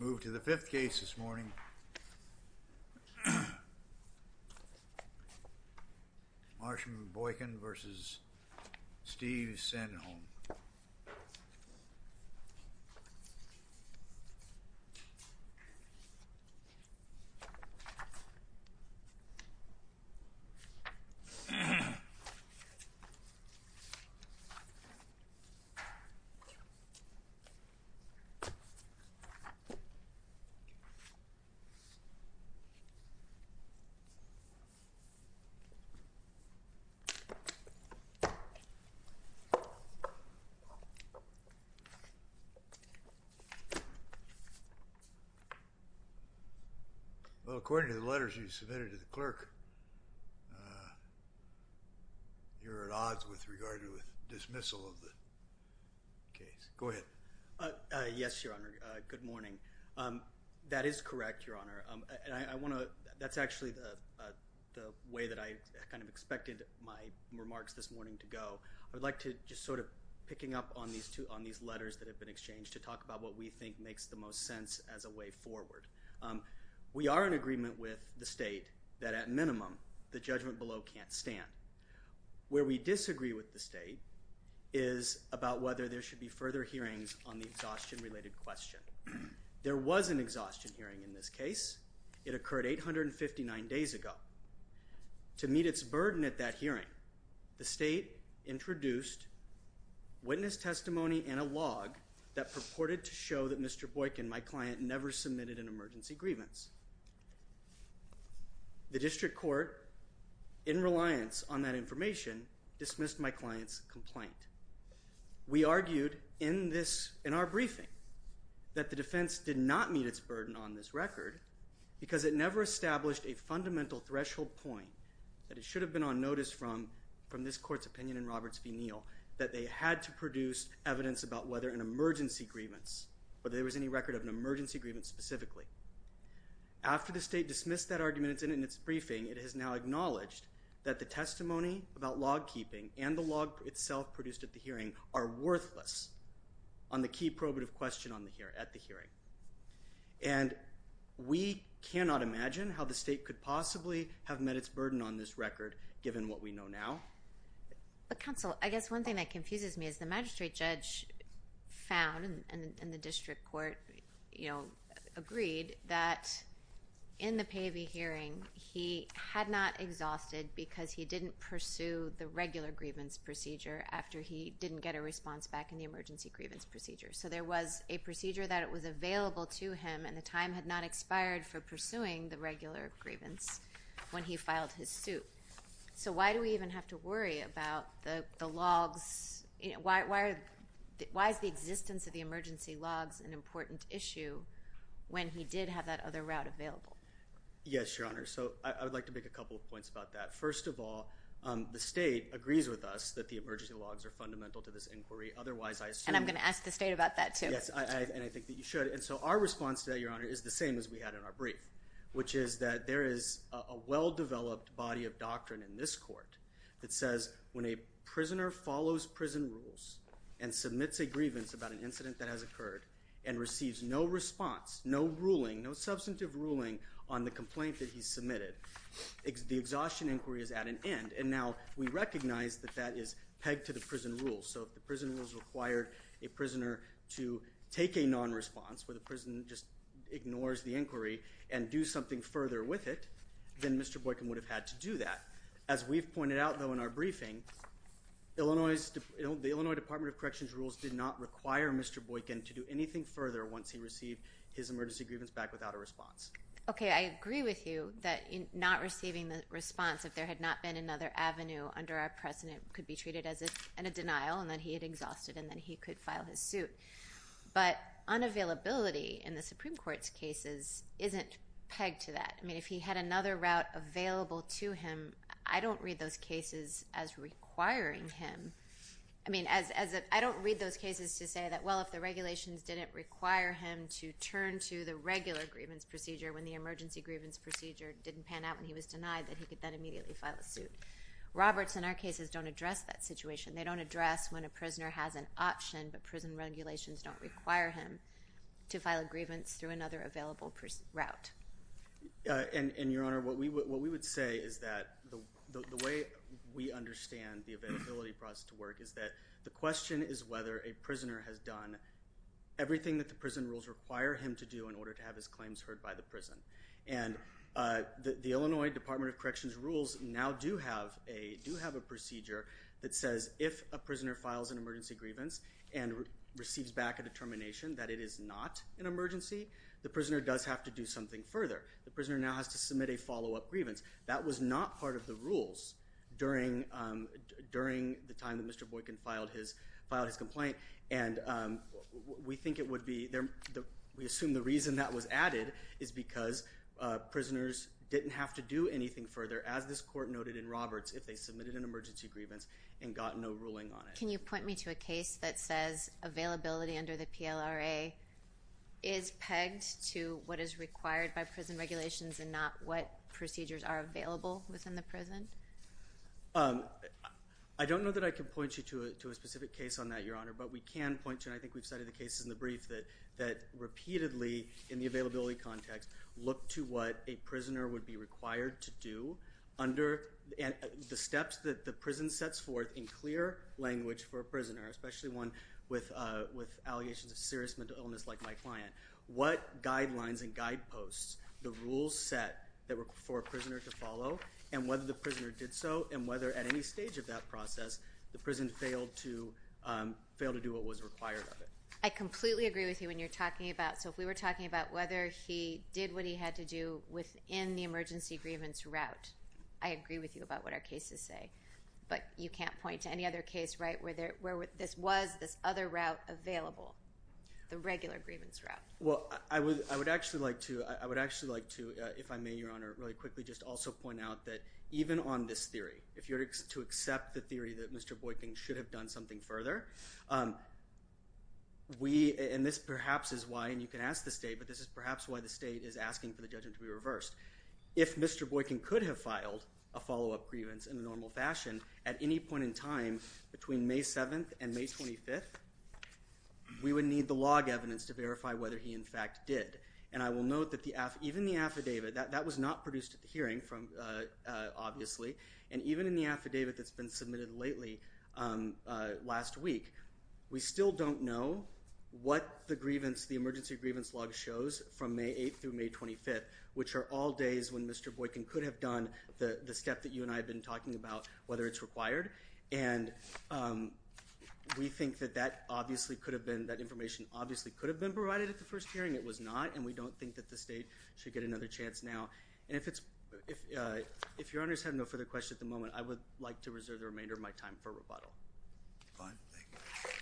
We move to the fifth case this morning, Marshall Boykin versus Steve Sendenholm. Well, according to the letters you submitted to the clerk, you're at odds with, regarding the dismissal of the case. Go ahead. Yes, Your Honor, good morning. That is correct, Your Honor. And I want to, that's actually the way that I kind of expected my remarks this morning to go. I would like to just sort of picking up on these two, on these letters that have been exchanged to talk about what we think makes the most sense as a way forward. We are in agreement with the state that at minimum, the judgment below can't stand. Where we disagree with the state is about whether there should be further hearings on the exhaustion-related question. There was an exhaustion hearing in this case. It occurred 859 days ago. To meet its burden at that hearing, the state introduced witness testimony and a log that purported to show that Mr. Boykin, my client, never submitted an emergency grievance. The district court, in reliance on that information, dismissed my client's complaint. We argued in this, in our briefing, that the defense did not meet its burden on this record because it never established a fundamental threshold point that it should have been on notice from, from this court's opinion in Roberts v. Neal, that they had to produce evidence about whether an emergency grievance, whether there was any record of an emergency grievance specifically. After the state dismissed that argument in its briefing, it has now acknowledged that the testimony about log keeping and the log itself produced at the hearing are worthless on the key probative question at the hearing. And we cannot imagine how the state could possibly have met its burden on this record given what we know now. But counsel, I guess one thing that confuses me is the magistrate judge found in the district court, you know, agreed that in the Pavey hearing he had not exhausted because he didn't pursue the regular grievance procedure after he didn't get a response back in the emergency grievance procedure. So there was a procedure that was available to him and the time had not expired for pursuing the regular grievance when he filed his suit. So why do we even have to worry about the logs? Why is the existence of the emergency logs an important issue when he did have that other route available? Yes, Your Honor. So I would like to make a couple of points about that. First of all, the state agrees with us that the emergency logs are fundamental to this inquiry. Otherwise, I assume. And I'm going to ask the state about that too. Yes, and I think that you should. And so our response today, Your Honor, is the same as we had in our brief, which is that there is a well-developed body of doctrine in this court that says when a prisoner follows prison rules and submits a grievance about an incident that has occurred and receives no response, no ruling, no substantive ruling on the complaint that he submitted, the exhaustion inquiry is at an end. And now we recognize that that is pegged to the prison rules. So if the prison rules required a prisoner to take a non-response where the prison just ignores the inquiry and do something further with it, then Mr. Boykin would have had to do that. As we've pointed out, though, in our briefing, the Illinois Department of Corrections rules did not require Mr. Boykin to do anything further once he received his emergency grievance back without a response. Okay, I agree with you that not receiving a response if there had not been another avenue under our precedent could be treated as a denial, and then he had exhausted, and then he could file his suit. But unavailability in the Supreme Court's cases isn't pegged to that. I mean, if he had another route available to him, I don't read those cases as requiring him. I mean, I don't read those cases to say that, well, if the regulations didn't require him to turn to the regular grievance procedure when the emergency grievance procedure didn't pan out and he was denied, that he could then immediately file a suit. Roberts in our cases don't address that situation. They don't address when a prisoner has an option, but prison regulations don't require him to file a grievance through another available route. And, Your Honor, what we would say is that the way we understand the availability process to work is that the question is whether a prisoner has done everything that the prison rules require him to do in order to have his claims heard by the prison. And the Illinois Department of Corrections rules now do have a procedure that says if a prisoner files an emergency grievance and receives back a determination that it is not an emergency, the prisoner does have to do something further. The prisoner now has to submit a follow-up grievance. That was not part of the rules during the time that Mr. Boykin filed his complaint. And we think it would be—we assume the reason that was added is because prisoners didn't have to do anything further, as this Court noted in Roberts, if they submitted an emergency grievance and got no ruling on it. Can you point me to a case that says availability under the PLRA is pegged to what is required by prison regulations and not what procedures are available within the prison? I don't know that I can point you to a specific case on that, Your Honor, but we can point to—and I think we've cited the cases in the brief—that repeatedly, in the availability context, look to what a prisoner would be required to do under the steps that the prison sets forth in clear language for a prisoner, especially one with allegations of serious mental illness like my client. What guidelines and guideposts, the rules set for a prisoner to follow, and whether the prisoner did so, and whether at any stage of that process the prison failed to do what was required of it. I completely agree with you when you're talking about—so if we were talking about whether he did what he had to do within the emergency grievance route, I agree with you about what our cases say, but you can't point to any other case, right, where this was this other route available, the regular grievance route. Well, I would actually like to, if I may, Your Honor, really quickly just also point out that even on this theory, if you're to accept the theory that Mr. Boykin should have done something further, we—and this perhaps is why—and you can ask the State, but this is perhaps why the State is asking for the judgment to be reversed. If Mr. Boykin could have filed a follow-up grievance in a normal fashion at any point in time between May 7th and May 25th, we would need the log evidence to verify whether he in fact did. And I will note that even the affidavit—that was not produced at the hearing, obviously—and even in the affidavit that's been submitted lately, last week, we still don't know what the grievance—the emergency grievance log shows from May 8th through May 25th, which are all days when Mr. Boykin could have done the step that you and I have been talking about, whether it's required. And we think that that obviously could have been—that information obviously could have been provided at the first hearing. It was not, and we don't think that the State should get another chance now. And if it's—if Your Honors have no further questions at the moment, I would like to reserve the remainder of my time for rebuttal. Fine. Thank you. Thank you.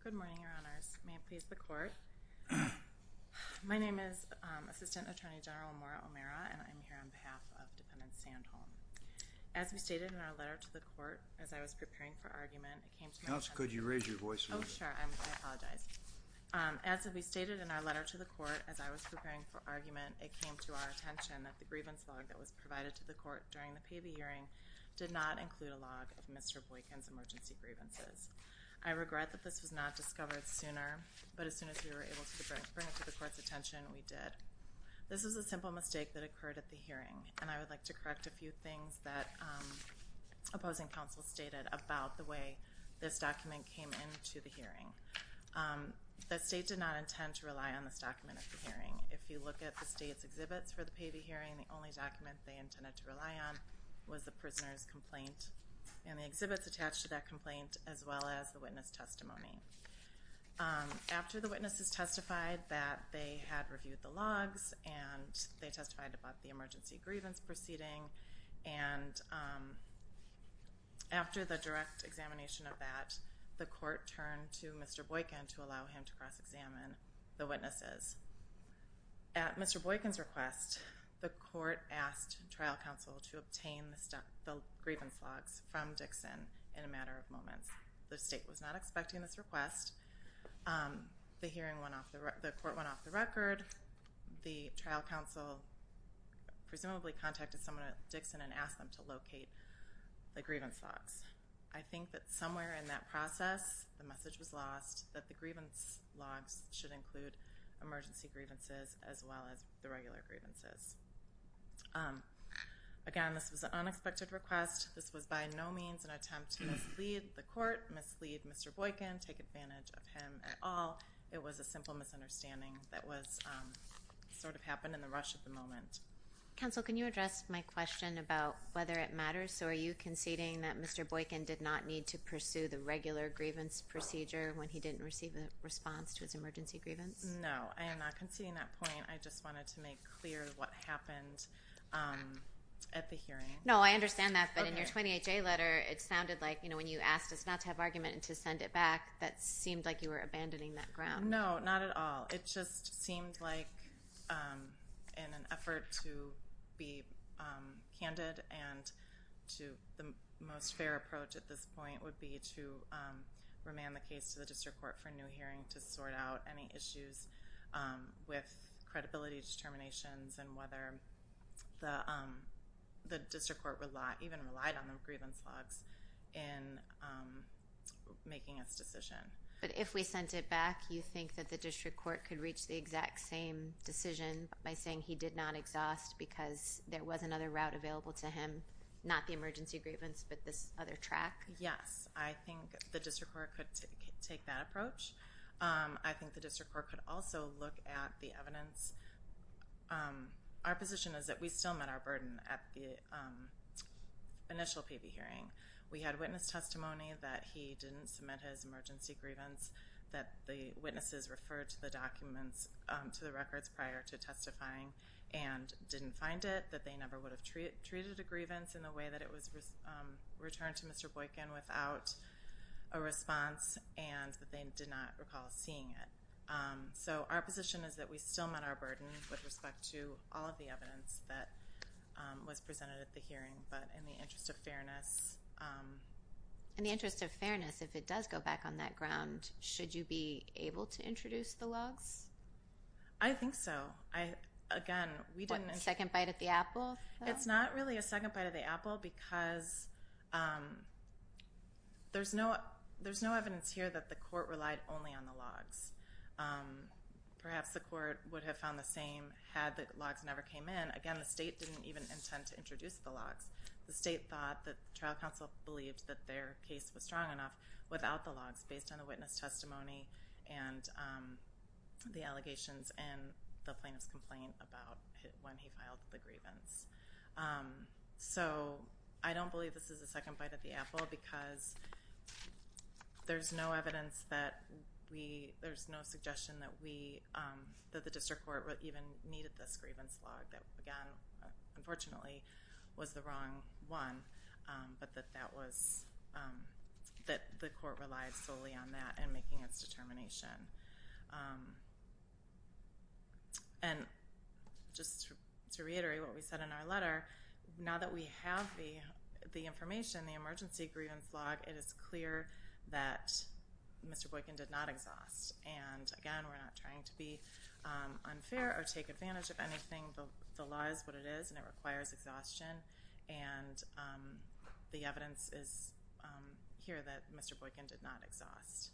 Good morning, Your Honors. May it please the Court. My name is Assistant Attorney General Amora O'Meara, and I'm here on behalf of Dependent Sandholm. As we stated in our letter to the Court, as I was preparing for argument, it came to my attention— Counsel, could you raise your voice a little bit? Oh, sure. I apologize. As we stated in our letter to the Court, as I was preparing for argument, it came to our attention that the grievance log that was provided to the Court during the payee hearing did not include a log of Mr. Boykin's emergency grievances. I regret that this was not discovered sooner, but as soon as we were able to bring it to the Court's attention, we did. This is a simple mistake that occurred at the hearing, and I would like to correct a The State did not intend to rely on this document at the hearing. If you look at the State's exhibits for the payee hearing, the only document they intended to rely on was the prisoner's complaint and the exhibits attached to that complaint, as well as the witness testimony. After the witnesses testified that they had reviewed the logs and they testified about the emergency grievance proceeding, and after the direct examination of that, the Court turned to Mr. Boykin to allow him to cross-examine the witnesses. At Mr. Boykin's request, the Court asked trial counsel to obtain the grievance logs from Dixon in a matter of moments. The State was not expecting this request. The hearing went off, the Court went off the record. The trial counsel presumably contacted someone at Dixon and asked them to locate the grievance logs. I think that somewhere in that process, the message was lost, that the grievance logs should include emergency grievances as well as the regular grievances. Again, this was an unexpected request. This was by no means an attempt to mislead the Court, mislead Mr. Boykin, take advantage of him at all. It was a simple misunderstanding that sort of happened in the rush of the moment. Counsel, can you address my question about whether it matters? Are you conceding that Mr. Boykin did not need to pursue the regular grievance procedure when he didn't receive a response to his emergency grievance? No, I am not conceding that point. I just wanted to make clear what happened at the hearing. No, I understand that, but in your 28-J letter, it sounded like when you asked us not to have argument and to send it back, that seemed like you were abandoning that ground. No, not at all. It just seemed like in an effort to be candid and to the most fair approach at this point would be to remand the case to the District Court for a new hearing to sort out any issues with credibility determinations and whether the District Court even relied on the grievance logs in making its decision. But if we sent it back, you think that the District Court could reach the exact same decision by saying he did not exhaust because there was another route available to him, not the emergency grievance, but this other track? Yes, I think the District Court could take that approach. I think the District Court could also look at the evidence. Our position is that we still met our burden at the initial PV hearing. We had witness testimony that he didn't submit his emergency grievance, that the witnesses referred to the records prior to testifying and didn't find it, that they never would have treated a grievance in the way that it was returned to Mr. Boykin without a response, and that they did not recall seeing it. So our position is that we still met our burden with respect to all of the evidence that was presented at the hearing, but in the interest of fairness. In the interest of fairness, if it does go back on that ground, should you be able to introduce the logs? I think so. A second bite at the apple? It's not really a second bite at the apple because there's no evidence here that the court relied only on the logs. Perhaps the court would have found the same had the logs never came in. Again, the state didn't even intend to introduce the logs. The state thought that the trial counsel believed that their case was strong enough without the logs based on the witness testimony and the allegations and the plaintiff's complaint about when he filed the grievance. So I don't believe this is a second bite at the apple because there's no evidence that we, there's no suggestion that the district court even needed this grievance log that, again, unfortunately was the wrong one, but that the court relied solely on that in making its determination. And just to reiterate what we said in our letter, now that we have the information, the emergency grievance log, it is clear that Mr. Boykin did not exhaust. And, again, we're not trying to be unfair or take advantage of anything. The law is what it is, and it requires exhaustion. And the evidence is here that Mr. Boykin did not exhaust.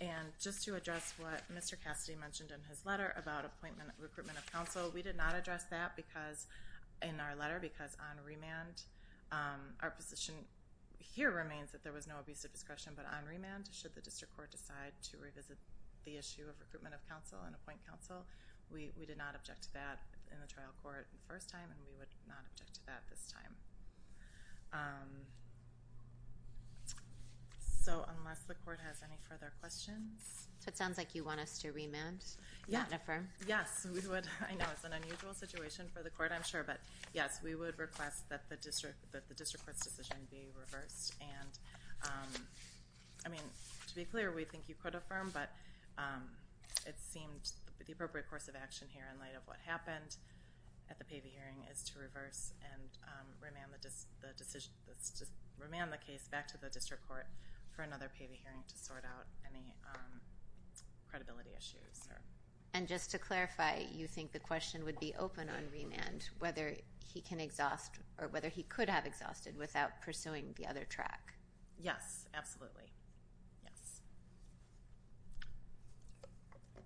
And just to address what Mr. Cassidy mentioned in his letter about appointment, recruitment of counsel, we did not address that because in our letter, because on remand, our position here remains that there was no abuse of discretion, but on remand should the district court decide to revisit the issue of recruitment of counsel and appoint counsel, we did not object to that in the trial court the first time, and we would not object to that this time. So unless the court has any further questions. So it sounds like you want us to remand and affirm. Yes, we would. I know it's an unusual situation for the court, I'm sure, but, yes, we would request that the district court's decision be reversed. And, I mean, to be clear, we think you could affirm, but it seemed the appropriate course of action here in light of what happened at the pavey hearing is to reverse and remand the case back to the district court for another pavey hearing to sort out any credibility issues. And just to clarify, you think the question would be open on remand, whether he can exhaust or whether he could have exhausted without pursuing the other track. Yes, absolutely. Yes.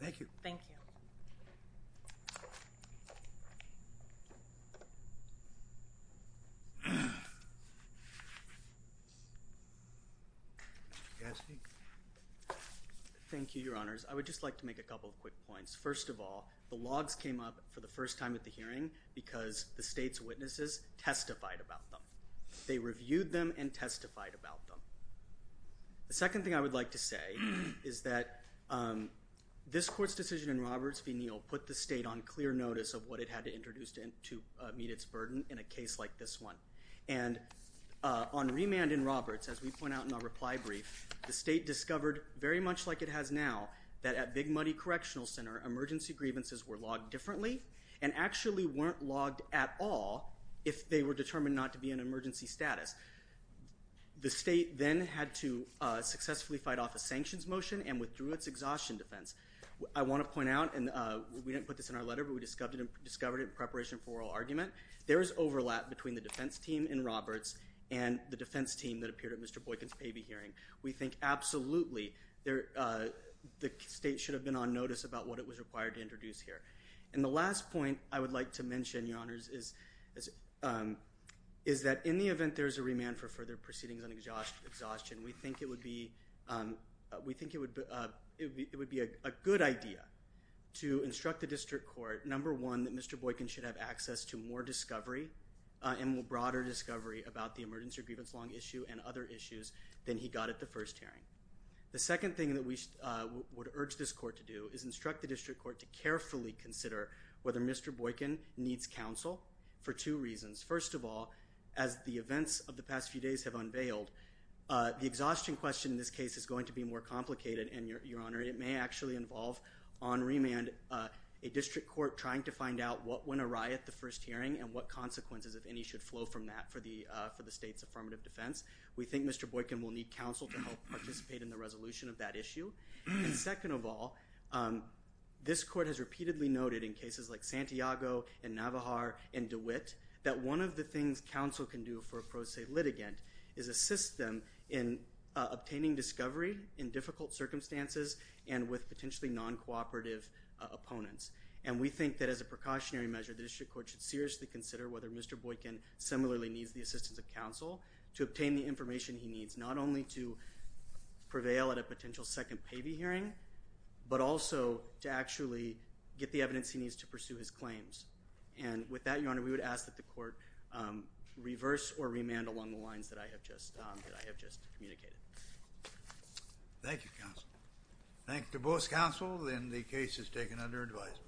Thank you. Thank you. Thank you, Your Honors. I would just like to make a couple of quick points. First of all, the logs came up for the first time at the hearing because the state's witnesses testified about them. They reviewed them and testified about them. The second thing I would like to say is that this court's decision in Roberts v. Neal put the state on clear notice of what it had to introduce to meet its burden in a case like this one. And on remand in Roberts, as we point out in our reply brief, the state discovered, very much like it has now, that at Big Muddy Correctional Center, emergency grievances were logged differently and actually weren't logged at all if they were determined not to be in emergency status. The state then had to successfully fight off a sanctions motion and withdrew its exhaustion defense. I want to point out, and we didn't put this in our letter, but we discovered it in preparation for oral argument, there is overlap between the defense team in Roberts and the defense team that appeared at Mr. Boykin's paybee hearing. We think absolutely the state should have been on notice about what it was required to introduce here. And the last point I would like to mention, Your Honors, is that in the event there is a remand for further proceedings on exhaustion, we think it would be a good idea to instruct the district court, number one, that Mr. Boykin should have access to more discovery and more broader discovery about the emergency grievance long issue and other issues than he got at the first hearing. The second thing that we would urge this court to do is instruct the district court to carefully consider whether Mr. Boykin needs counsel for two reasons. First of all, as the events of the past few days have unveiled, the exhaustion question in this case is going to be more complicated, and, Your Honor, it may actually involve on remand a district court trying to find out what went awry at the first hearing and what consequences, if any, should flow from that for the state's affirmative defense. We think Mr. Boykin will need counsel to help participate in the resolution of that issue. Second of all, this court has repeatedly noted in cases like Santiago and Navajar and DeWitt that one of the things counsel can do for a pro se litigant is assist them in obtaining discovery in difficult circumstances and with potentially non-cooperative opponents. And we think that as a precautionary measure, the district court should seriously consider whether Mr. Boykin similarly needs the assistance of counsel to obtain the information he needs, not only to prevail at a potential second pavy hearing, but also to actually get the evidence he needs to pursue his claims. And with that, Your Honor, we would ask that the court reverse or remand along the lines that I have just communicated. Thank you, counsel. Thank you to both counsel, and the case is taken under advisement.